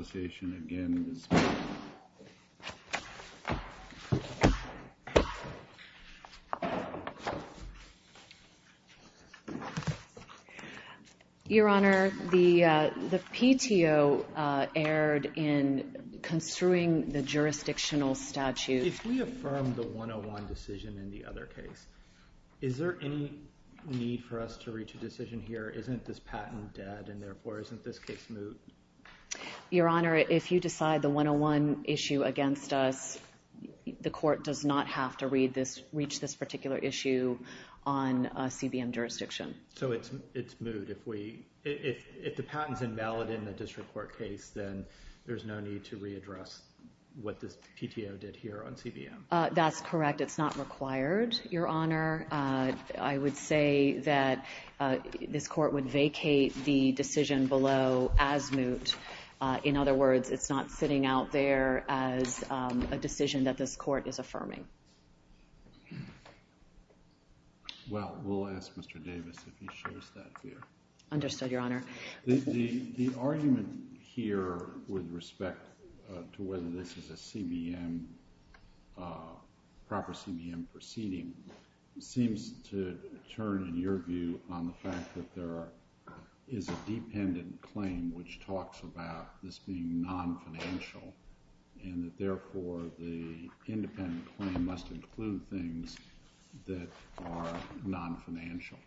Association. Your Honor, the the PTO erred in construing the jurisdictional statute. If we affirm the 101 decision in the other case, is there any need for us to reach a decision here? Isn't this patent dead and therefore isn't this case moot? Your Honor, if you decide the 101 issue against us, the court does not have to read this, reach this particular issue on CBM jurisdiction. So it's it's moot. If we, if the patent's invalid in the district court case, then there's no need to readdress what this PTO did here on CBM. That's correct. It's not required, Your Honor. I would say that this court would vacate the decision below as moot. In other words, it's not sitting out there as a decision that this court is affirming. Well, we'll ask Mr. Davis if he shows that here. Understood, Your Honor. The argument here with respect to whether this is a CBM, proper CBM proceeding seems to turn, in your view, on the fact that there is a dependent claim which talks about this being non-financial and that therefore the independent claim must include things that are non-financial.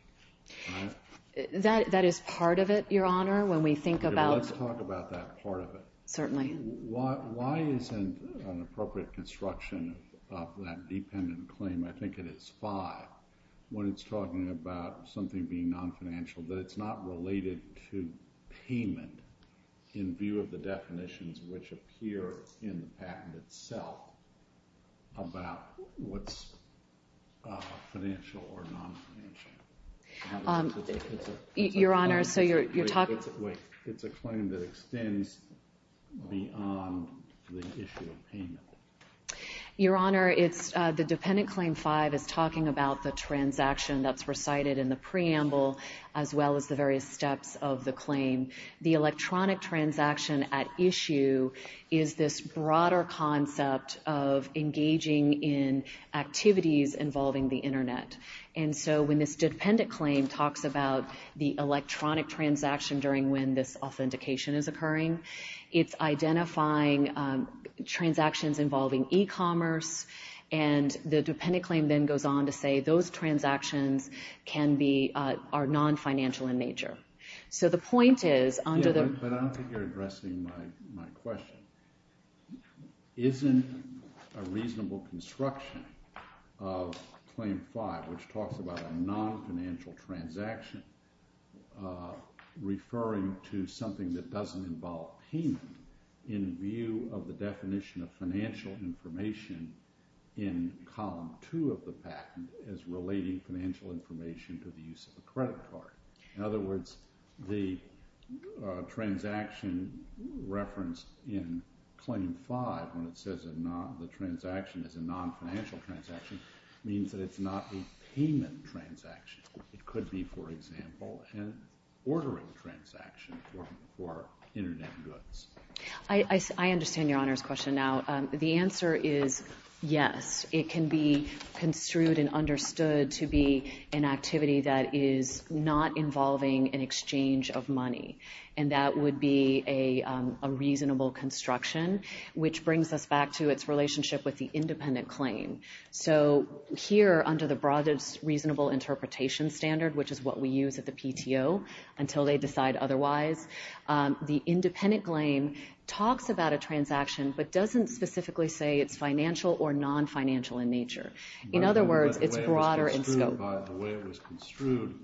That is part of it, Your Honor, when we think about... Let's talk about that part of it. Certainly. Why isn't an appropriate construction of that dependent claim, I think it is five, when it's talking about something being non-financial, that it's not related to payment in view of the definitions which appear in the patent itself about what's financial or non-financial. Your Honor, so you're talking... Wait. It's a claim that extends beyond the issue of payment. Your Honor, the dependent claim five is talking about the transaction that's recited in the preamble as well as the various steps of the claim. The electronic transaction at issue is this broader concept of engaging in activities involving the Internet. And so when this dependent claim talks about the electronic transaction during when this authentication is it's identifying transactions involving e-commerce and the dependent claim then goes on to say those transactions can be... are non-financial in nature. So the point is... But I don't think you're addressing my question. Isn't a reasonable construction of claim five, which talks about a non-financial transaction referring to something that doesn't involve payment in view of the definition of financial information in column two of the patent as relating financial information to the use of a credit card. In other words, the transaction referenced in claim five when it says the transaction is a non-financial transaction means that it's not a payment transaction. It could be, for example, an ordering transaction for Internet goods. I understand your Honor's question now. The answer is yes. It can be construed and understood to be an activity that is not involving an exchange of money. And that would be a reasonable construction, which brings us back to its relationship with the independent claim. So here under the broadest reasonable interpretation standard, which is what we use at the PTO until they decide otherwise, the independent claim talks about a transaction but doesn't specifically say it's financial or non-financial in nature. In other words, it's broader in scope. The way it was construed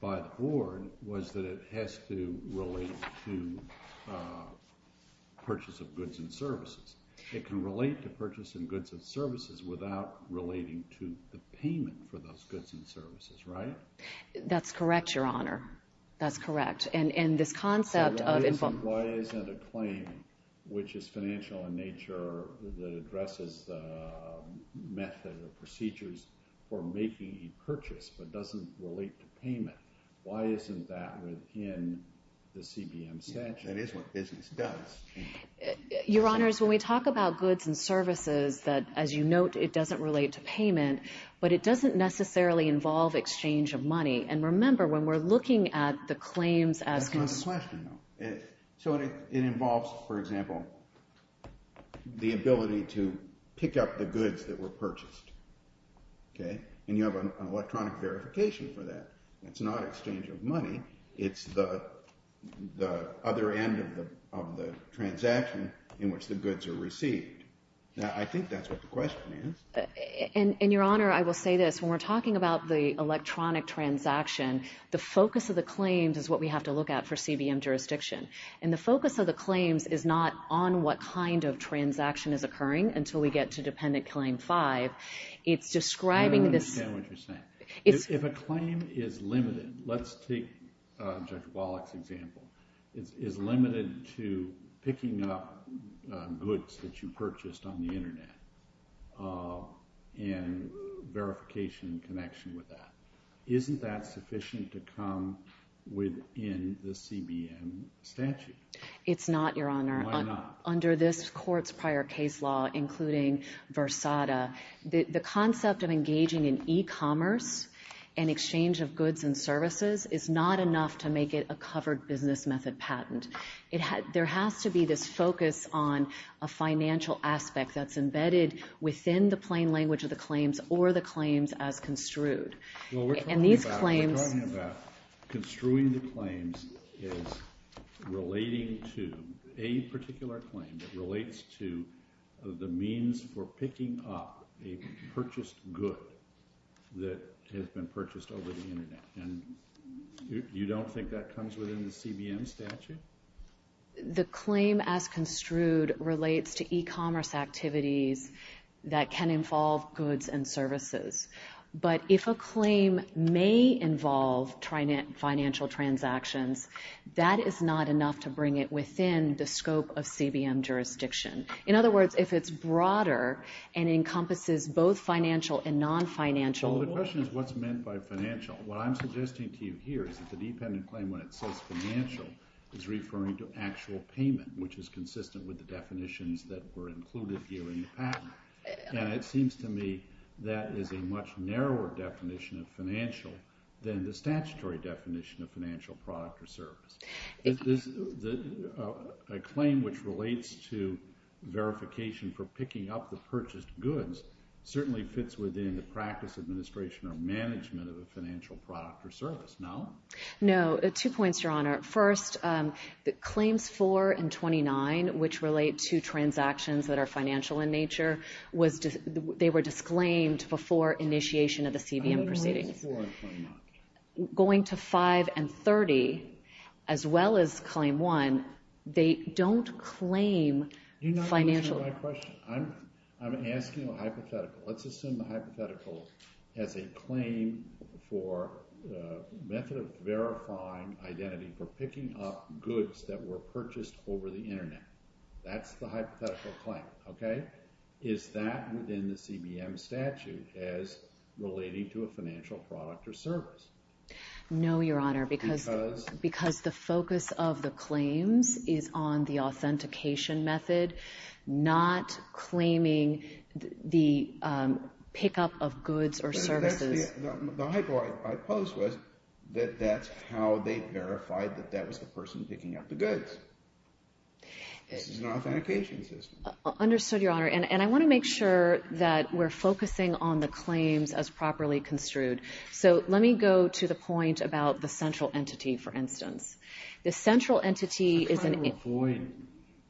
by the board was that it has to relate to purchase of goods and services. It can relate to purchase of goods and services without relating to the payment for those goods and services, right? That's correct, Your Honor. That's correct. And this concept of... Why isn't a claim, which is financial in nature, that addresses the method or procedures for making a purchase but doesn't relate to payment, why isn't that within the CBM statute? That is what business does. Your Honors, when we talk about goods and services, as you note, it doesn't relate to payment, but it doesn't necessarily involve exchange of money. And remember, when we're looking at the claims as... That's not the question, though. So it involves, for example, the ability to pick up the goods that were purchased, okay? And you have an electronic verification for that. It's not exchange of money. It's the other end of the transaction in which the goods are received. Now, I think that's what the question is. And, Your Honor, I will say this. When we're talking about the electronic transaction, the focus of the claims is what we have to look at for CBM jurisdiction. And the focus of the claims is not on what kind of transaction is occurring until we get to Dependent Claim 5. It's describing this... I don't understand what you're saying. If a claim is limited, let's take Judge Wallach's example, is limited to picking up goods that you purchased on the Internet and verification connection with that, isn't that sufficient to come within the CBM statute? It's not, Your Honor. Why not? Under this Court's prior case law, including Versada, the concept of engaging in e-commerce and exchange of goods and services is not enough to make it a covered business method patent. There has to be this focus on a financial aspect that's embedded within the plain language of the claims or the claims as construed. And these claims... A particular claim that relates to the means for picking up a purchased good that has been purchased over the Internet. And you don't think that comes within the CBM statute? The claim as construed relates to e-commerce activities that can involve goods and services. But if a claim may involve financial transactions, that is not enough to bring it within the scope of CBM jurisdiction. In other words, if it's broader and encompasses both financial and non-financial... Well, the question is what's meant by financial? What I'm suggesting to you here is that the dependent claim, when it says financial, is referring to actual payment, which is consistent with the definitions that were included here in the patent. And it seems to me that is a much narrower definition of financial than the statutory definition of financial product or service. A claim which relates to verification for picking up the purchased goods certainly fits within the practice, administration, or management of a financial product or service. No. Two points, Your Honor. First, claims 4 and 29, which relate to transactions that are financial in nature, they were disclaimed before initiation of the CBM proceedings. Claims 4 and 29. Going to 5 and 30, as well as claim 1, they don't claim financial... You're not answering my question. I'm asking a hypothetical. Let's assume the hypothetical has a claim for a method of verifying identity for picking up goods that were purchased over the Internet. That's the hypothetical claim, okay? Is that within the CBM statute as relating to a financial product or service? No, Your Honor, because the focus of the claims is on the authentication method, not claiming the pickup of goods or services. The hypo I posed was that that's how they verified that that was the person picking up the goods. This is an authentication system. Understood, Your Honor. And I want to make sure that we're focusing on the claims as properly construed. So let me go to the point about the central entity, for instance. The central entity is an... I'm trying to avoid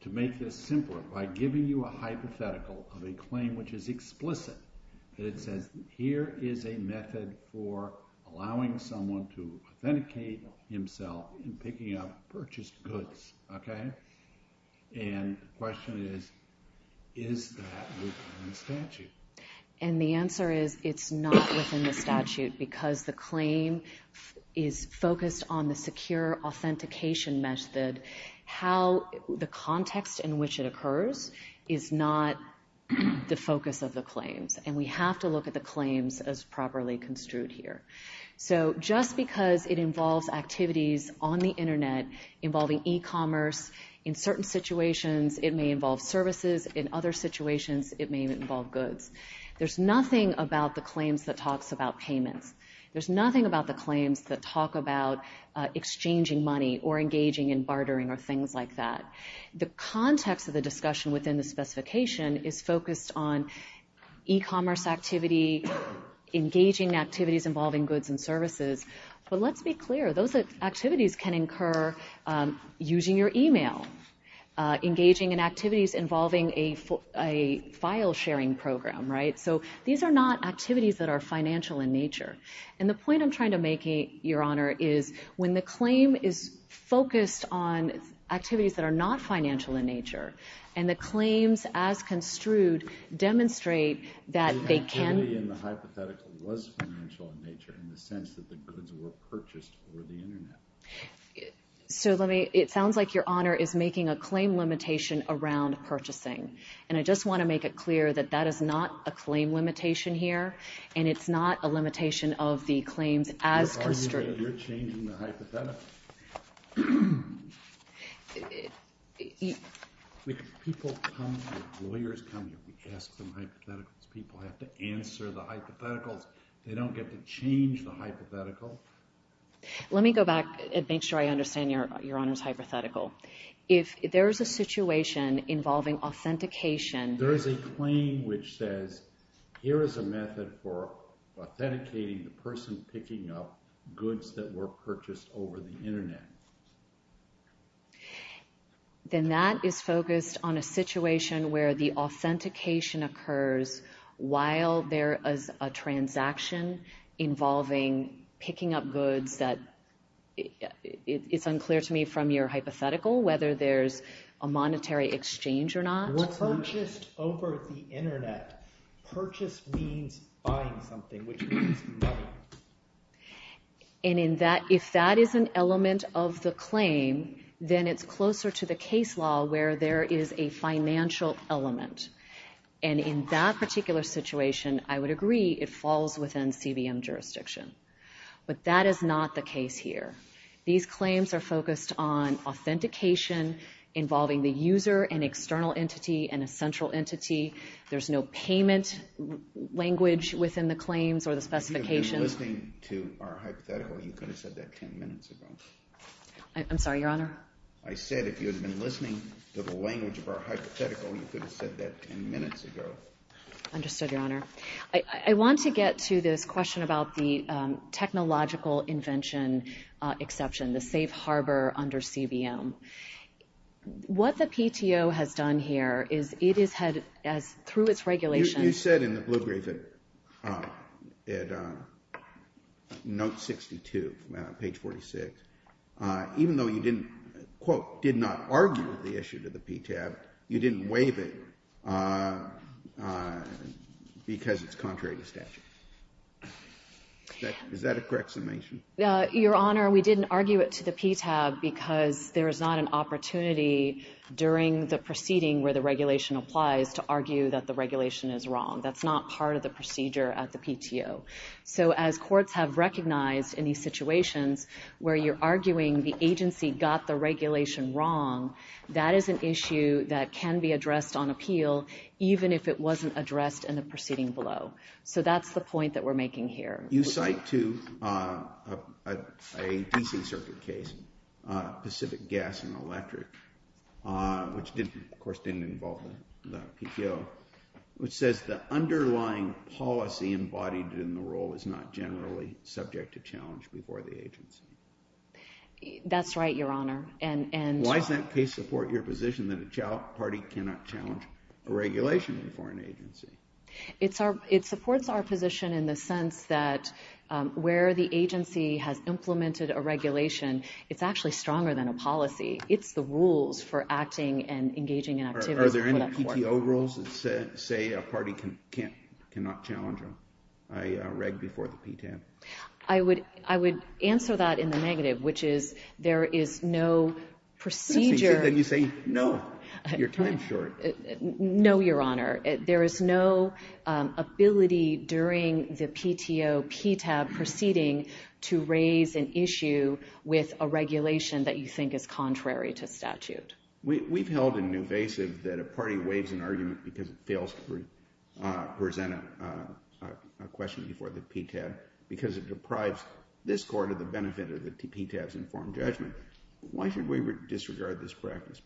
to make this simpler by giving you a hypothetical of a claim which is explicit. It says here is a method for allowing someone to authenticate himself in picking up purchased goods, okay? And the question is, is that within the statute? And the answer is it's not within the statute because the claim is focused on the secure authentication method. The context in which it occurs is not the focus of the claims, and we have to look at the claims as properly construed here. So just because it involves activities on the Internet involving e-commerce, in certain situations it may involve services, in other situations it may involve goods. There's nothing about the claims that talks about payments. There's nothing about the claims that talk about exchanging money or engaging in bartering or things like that. The context of the discussion within the specification is focused on e-commerce activity, engaging activities involving goods and services. But let's be clear. Those activities can incur using your e-mail, engaging in activities involving a file-sharing program, right? So these are not activities that are financial in nature. And the point I'm trying to make, Your Honor, is when the claim is focused on activities that are not financial in nature and the claims as construed demonstrate that they can be in the hypothetical was financial in nature in the sense that the goods were purchased over the Internet. So it sounds like Your Honor is making a claim limitation around purchasing, and I just want to make it clear that that is not a claim limitation here, and it's not a limitation of the claims as construed. You're changing the hypothetical. People come here, lawyers come here, we ask them hypotheticals. People have to answer the hypotheticals. They don't get to change the hypothetical. Let me go back and make sure I understand Your Honor's hypothetical. If there is a situation involving authentication. There is a claim which says, here is a method for authenticating the person picking up goods that were purchased over the Internet. Then that is focused on a situation where the authentication occurs while there is a transaction involving picking up goods that, it's unclear to me from your hypothetical whether there's a monetary exchange or not. Purchased over the Internet. Purchase means buying something, which means money. And if that is an element of the claim, then it's closer to the case law where there is a financial element. And in that particular situation, I would agree it falls within CBM jurisdiction. But that is not the case here. These claims are focused on authentication involving the user, an external entity, and a central entity. There's no payment language within the claims or the specifications. If you had been listening to our hypothetical, you could have said that 10 minutes ago. I'm sorry, Your Honor? I said if you had been listening to the language of our hypothetical, you could have said that 10 minutes ago. Understood, Your Honor. Thank you, Your Honor. I want to get to this question about the technological invention exception, the safe harbor under CBM. What the PTO has done here is it has had, through its regulations. You said in the blue brief at note 62, page 46, even though you didn't, quote, did not argue the issue to the PTAB, you didn't waive it because it's contrary to statute. Is that a correct summation? Your Honor, we didn't argue it to the PTAB because there is not an opportunity during the proceeding where the regulation applies to argue that the regulation is wrong. That's not part of the procedure at the PTO. So as courts have recognized in these situations where you're arguing the agency got the regulation wrong, that is an issue that can be addressed on appeal even if it wasn't addressed in the proceeding below. So that's the point that we're making here. You cite to a DC circuit case, Pacific Gas and Electric, which of course didn't involve the PTO, which says the underlying policy embodied in the rule is not generally subject to challenge before the agency. That's right, Your Honor. Why does that case support your position that a party cannot challenge a regulation before an agency? It supports our position in the sense that where the agency has implemented a regulation, it's actually stronger than a policy. It's the rules for acting and engaging in activities. Are there any PTO rules that say a party cannot challenge a reg before the PTAB? I would answer that in the negative, which is there is no procedure. Then you say no. You're time is short. No, Your Honor. There is no ability during the PTO PTAB proceeding to raise an issue with a regulation that you think is contrary to statute. We've held it invasive that a party waives an argument because it fails to present a question before the PTAB because it deprives this court of the benefit of the PTAB's informed judgment. Why should we disregard this practice?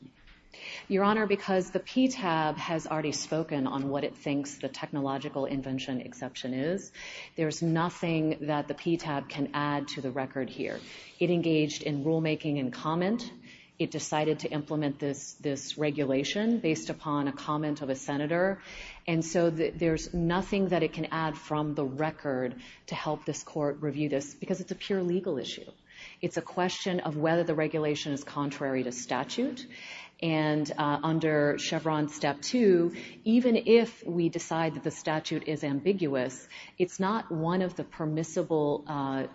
Your Honor, because the PTAB has already spoken on what it thinks the technological invention exception is. There's nothing that the PTAB can add to the record here. It engaged in rulemaking and comment. It decided to implement this regulation based upon a comment of a senator. And so there's nothing that it can add from the record to help this court review this because it's a pure legal issue. It's a question of whether the regulation is contrary to statute. And under Chevron Step 2, even if we decide that the statute is ambiguous, it's not one of the permissible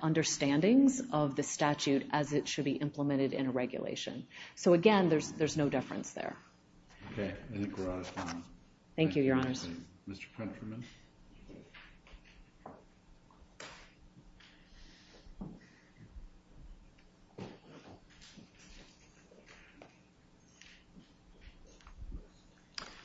understandings of the statute as it should be implemented in a regulation. So, again, there's no deference there. Okay. Thank you, Your Honors. Thank you. Mr. Peterman?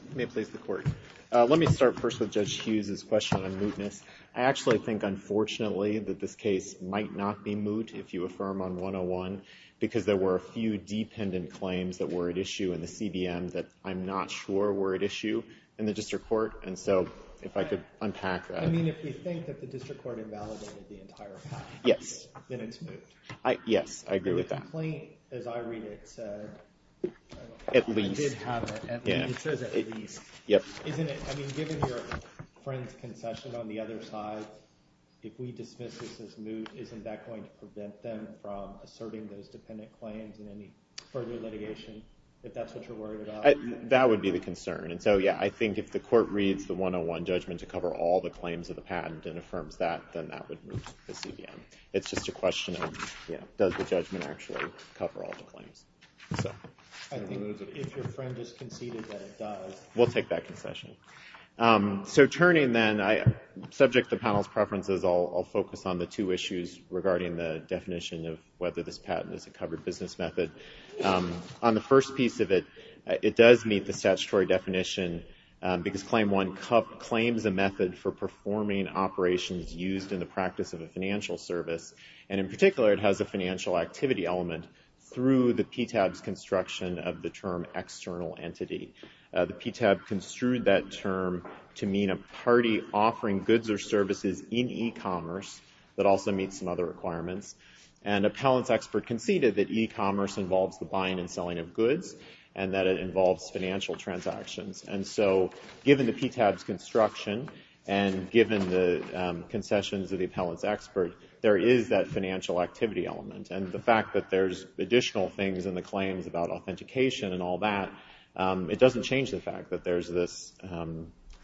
Let me please the court. Let me start first with Judge Hughes' question on mootness. I actually think, unfortunately, that this case might not be moot if you affirm on 101 because there were a few dependent claims that were at issue in the CBM that I'm not sure were at issue in the district court. And so if I could unpack that. I mean, if you think that the district court invalidated the entire patent, then it's moot. Yes, I agree with that. The complaint, as I read it, said I did have it. It says at least. Yep. I mean, given your friend's concession on the other side, if we dismiss this as moot, isn't that going to prevent them from asserting those dependent claims in any further litigation, if that's what you're worried about? That would be the concern. And so, yeah, I think if the court reads the 101 judgment to cover all the claims of the patent and affirms that, then that would moot the CBM. It's just a question of, you know, does the judgment actually cover all the claims? I think if your friend has conceded that it does. We'll take that concession. So turning then, subject to the panel's preferences, I'll focus on the two issues regarding the definition of whether this patent is a covered business method. On the first piece of it, it does meet the statutory definition because Claim 1 claims a method for performing operations used in the practice of a financial service, and in particular, it has a financial activity element through the PTAB's construction of the term external entity. The PTAB construed that term to mean a party offering goods or services in e-commerce that also meets some other requirements. And appellant's expert conceded that e-commerce involves the buying and selling of goods and that it involves financial transactions. And so, given the PTAB's construction and given the concessions of the appellant's expert, there is that financial activity element. And the fact that there's additional things in the claims about authentication and all that, it doesn't change the fact that there's this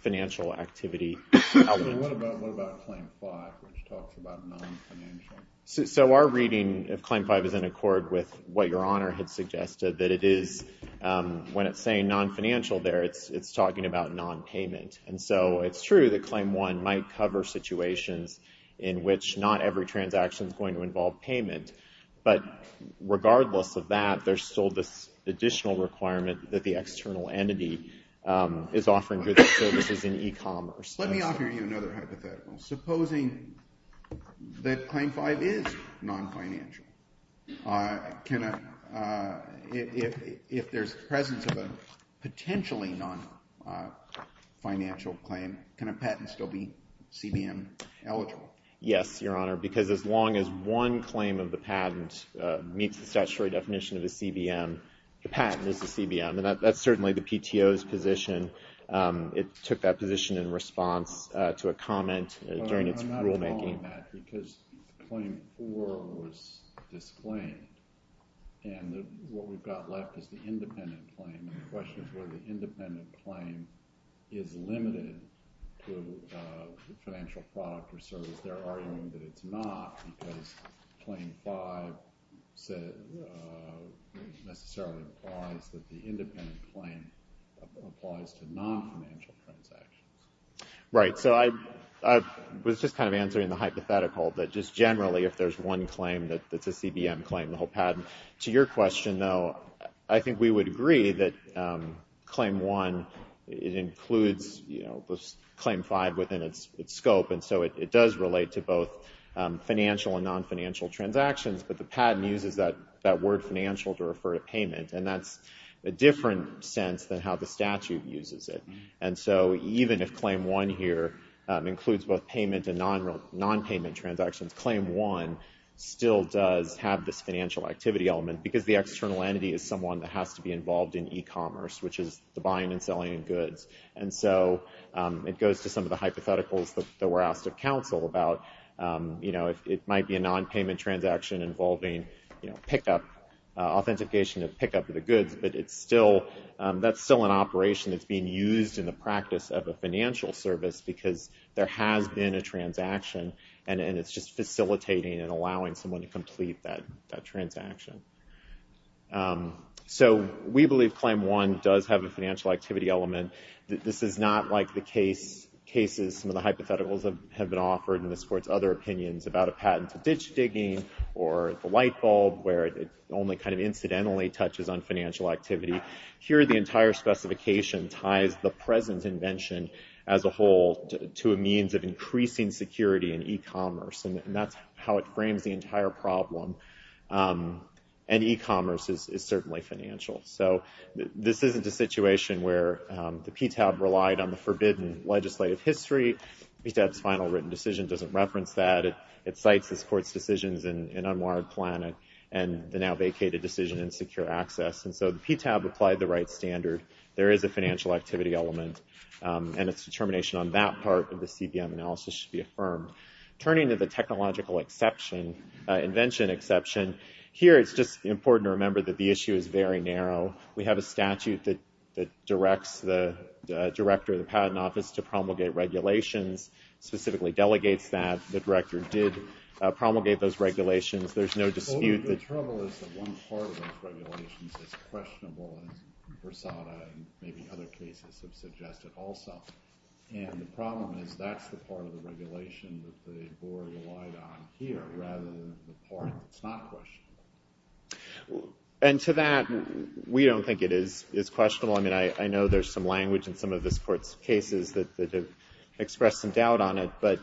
financial activity element. So what about Claim 5, which talks about non-financial? So our reading of Claim 5 is in accord with what Your Honor had suggested, that it is, when it's saying non-financial there, it's talking about non-payment. And so it's true that Claim 1 might cover situations in which not every transaction is going to involve payment, but regardless of that, there's still this additional requirement that the external entity is offering goods and services in e-commerce. Let me offer you another hypothetical. Supposing that Claim 5 is non-financial. If there's the presence of a potentially non-financial claim, can a patent still be CBM eligible? Yes, Your Honor, because as long as one claim of the patent meets the statutory definition of a CBM, the patent is a CBM, and that's certainly the PTO's position. It took that position in response to a comment during its rulemaking. I'm asking that because Claim 4 was disclaimed, and what we've got left is the independent claim, and the question is whether the independent claim is limited to financial product or service. They're arguing that it's not, because Claim 5 necessarily implies that the independent claim applies to non-financial transactions. Right. So I was just kind of answering the hypothetical that just generally if there's one claim that's a CBM claim, the whole patent. To your question, though, I think we would agree that Claim 1, it includes, you know, Claim 5 within its scope, and so it does relate to both financial and non-financial transactions, but the patent uses that word financial to refer to payment, and that's a different sense than how the statute uses it. And so even if Claim 1 here includes both payment and non-payment transactions, Claim 1 still does have this financial activity element because the external entity is someone that has to be involved in e-commerce, which is the buying and selling of goods, and so it goes to some of the hypotheticals that were asked of counsel about, you know, it might be a non-payment transaction involving, you know, pick-up, authentication of pick-up of the goods, but it's still, that's still an operation that's being used in the practice of a financial service, because there has been a transaction, and it's just facilitating and allowing someone to complete that transaction. So we believe Claim 1 does have a financial activity element. This is not like the cases, some of the hypotheticals have been offered in this Court's other opinions about a patent to ditch digging or the light bulb where it only kind of incidentally touches on financial activity. Here the entire specification ties the present invention as a whole to a means of increasing security in e-commerce, and that's how it frames the entire problem, and e-commerce is certainly financial. So this isn't a situation where the PTAB relied on the forbidden legislative history. PTAB's final written decision doesn't reference that. It cites this Court's decisions in unwarranted plan and the now vacated decision in secure access, and so the PTAB applied the right standard. There is a financial activity element, and its determination on that part of the CBM analysis should be affirmed. Turning to the technological invention exception, here it's just important to remember that the issue is very narrow. We have a statute that directs the Director of the Patent Office to promulgate regulations, specifically delegates that. The Director did promulgate those regulations. There's no dispute that... And to that, we don't think it is questionable. I mean, I know there's some language in some of this Court's cases that have expressed some doubt on it, but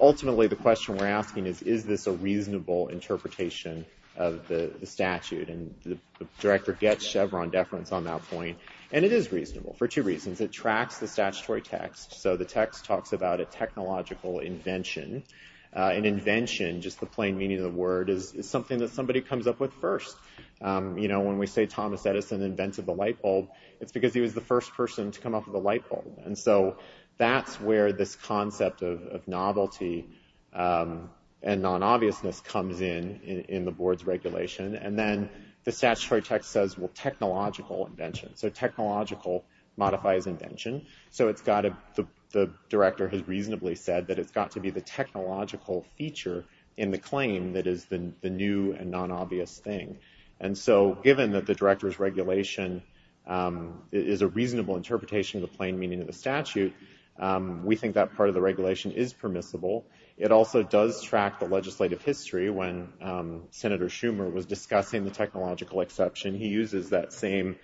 ultimately the question we're asking is, is this a reasonable interpretation of the statute? And the Director gets Chevron deference on that point, and it is reasonable for two reasons. It tracks the statutory text, so the text talks about a technological invention. An invention, just the plain meaning of the word, is something that somebody comes up with first. When we say Thomas Edison invented the lightbulb, it's because he was the first person to come up with a lightbulb. And so that's where this concept of novelty and non-obviousness comes in in the Board's regulation. And then the statutory text says, well, technological invention. So technological modifies invention. So the Director has reasonably said that it's got to be the technological feature in the claim that is the new and non-obvious thing. And so given that the Director's regulation is a reasonable interpretation of the plain meaning of the statute, we think that part of the regulation is permissible. It also does track the legislative history. When Senator Schumer was discussing the technological exception, he uses that same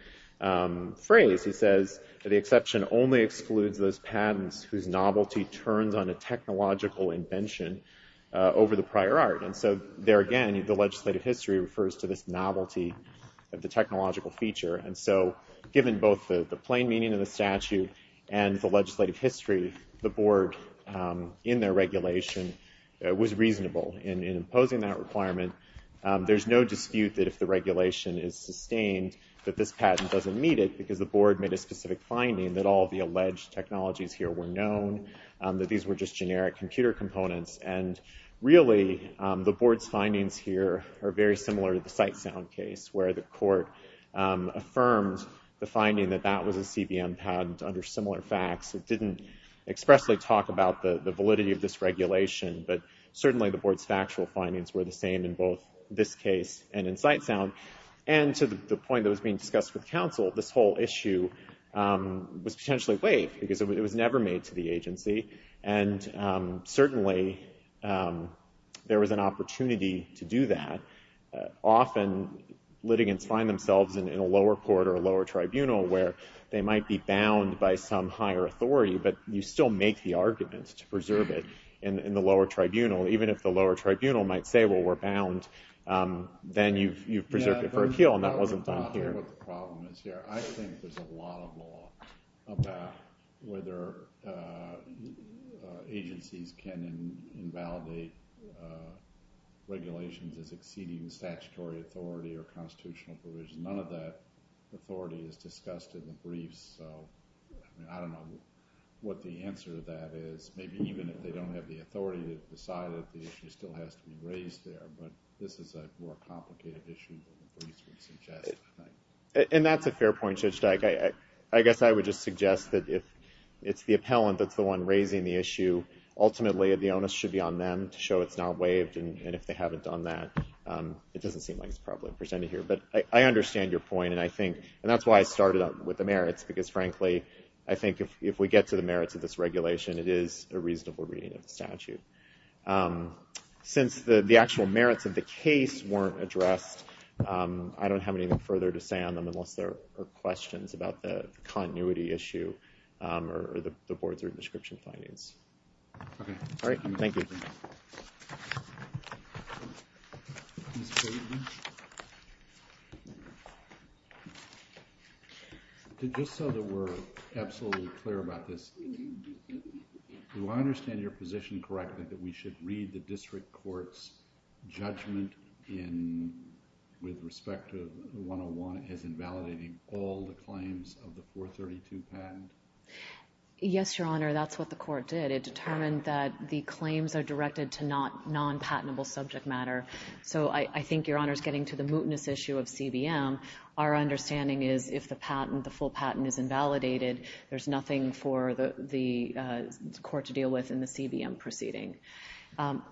phrase. He says the exception only excludes those patents whose novelty turns on a technological invention over the prior art. And so there again, the legislative history refers to this novelty of the technological feature. And so given both the plain meaning of the statute and the legislative history, the Board, in their regulation, was reasonable in imposing that requirement. There's no dispute that if the regulation is sustained, that this patent doesn't meet it, because the Board made a specific finding that all the alleged technologies here were known, that these were just generic computer components. And really, the Board's findings here are very similar to the Sitesound case, where the court affirmed the finding that that was a CBM patent under similar facts. It didn't expressly talk about the validity of this regulation, but certainly the Board's factual findings were the same in both this case and in Sitesound. And to the point that was being discussed with counsel, this whole issue was potentially waived, because it was never made to the agency, and certainly there was an opportunity to do that. Often litigants find themselves in a lower court or a lower tribunal, where they might be bound by some higher authority, but you still make the argument to preserve it in the lower tribunal. Even if the lower tribunal might say, well, we're bound, then you've preserved it for appeal, and that wasn't done here. I don't care what the problem is here. I think there's a lot of law about whether agencies can invalidate regulations as exceeding statutory authority or constitutional provision. None of that authority is discussed in the briefs, so I don't know what the answer to that is. Maybe even if they don't have the authority to decide it, the issue still has to be raised there. But this is a more complicated issue than the briefs would suggest, I think. And that's a fair point, Judge Dyke. I guess I would just suggest that if it's the appellant that's the one raising the issue, ultimately the onus should be on them to show it's not waived, and if they haven't done that, it doesn't seem like it's properly presented here. But I understand your point, and that's why I started out with the merits, because frankly, I think if we get to the merits of this regulation, it is a reasonable reading of the statute. Since the actual merits of the case weren't addressed, I don't have anything further to say on them unless there are questions about the continuity issue or the board's written description findings. All right. Thank you. Ms. Bateman? Just so that we're absolutely clear about this, do I understand your position correctly that we should read the district court's judgment with respect to 101 as invalidating all the claims of the 432 patent? Yes, Your Honor, that's what the court did. It determined that the claims are directed to non-patentable subject matter. So I think Your Honor's getting to the mootness issue of CBM. Our understanding is if the full patent is invalidated, there's nothing for the court to deal with in the CBM proceeding.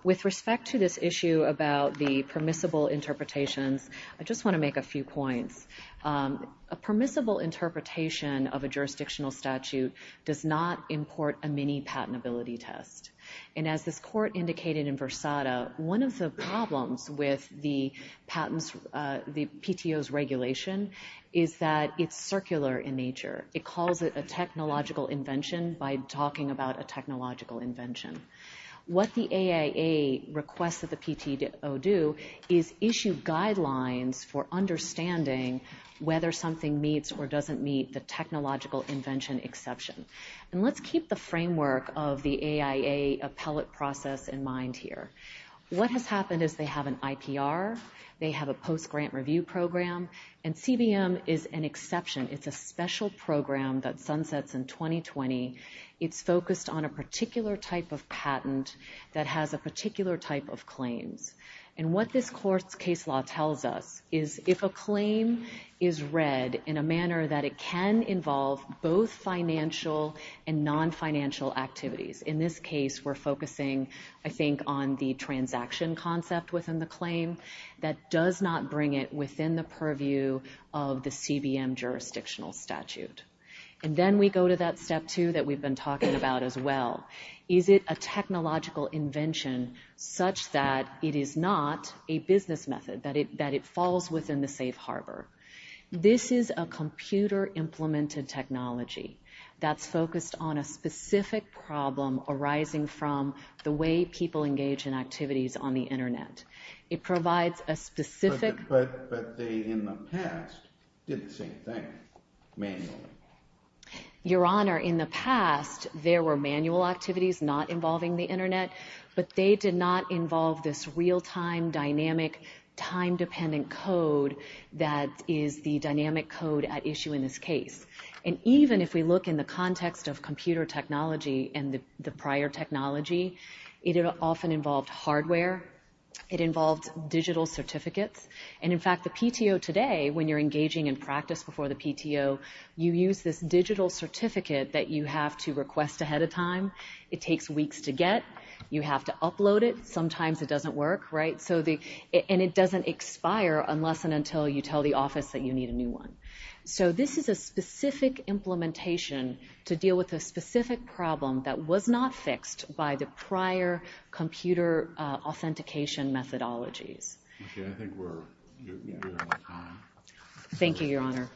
With respect to this issue about the permissible interpretations, I just want to make a few points. A permissible interpretation of a jurisdictional statute does not import a mini-patentability test. And as this court indicated in Versada, one of the problems with the PTO's regulation is that it's circular in nature. It calls it a technological invention by talking about a technological invention. What the AIA requests that the PTO do is issue guidelines for understanding whether something meets or doesn't meet the technological invention exception. And let's keep the framework of the AIA appellate process in mind here. What has happened is they have an IPR, they have a post-grant review program, and CBM is an exception. It's a special program that sunsets in 2020. It's focused on a particular type of patent that has a particular type of claims. And what this court's case law tells us is if a claim is read in a manner that it can involve both financial and non-financial activities. In this case, we're focusing, I think, on the transaction concept within the claim. That does not bring it within the purview of the CBM jurisdictional statute. And then we go to that step two that we've been talking about as well. Is it a technological invention such that it is not a business method, that it falls within the safe harbor? This is a computer-implemented technology that's focused on a specific problem arising from the way people engage in activities on the Internet. It provides a specific... Your Honor, in the past, there were manual activities not involving the Internet, but they did not involve this real-time, dynamic, time-dependent code that is the dynamic code at issue in this case. And even if we look in the context of computer technology and the prior technology, it often involved hardware. It involved digital certificates. And in fact, the PTO today, when you're engaging in practice before the PTO, you use this digital certificate that you have to request ahead of time. It takes weeks to get. You have to upload it. Sometimes it doesn't work, right? And it doesn't expire unless and until you tell the office that you need a new one. So this is a specific implementation to deal with a specific problem that was not fixed by the prior computer authentication methodologies. Thank you, Your Honor.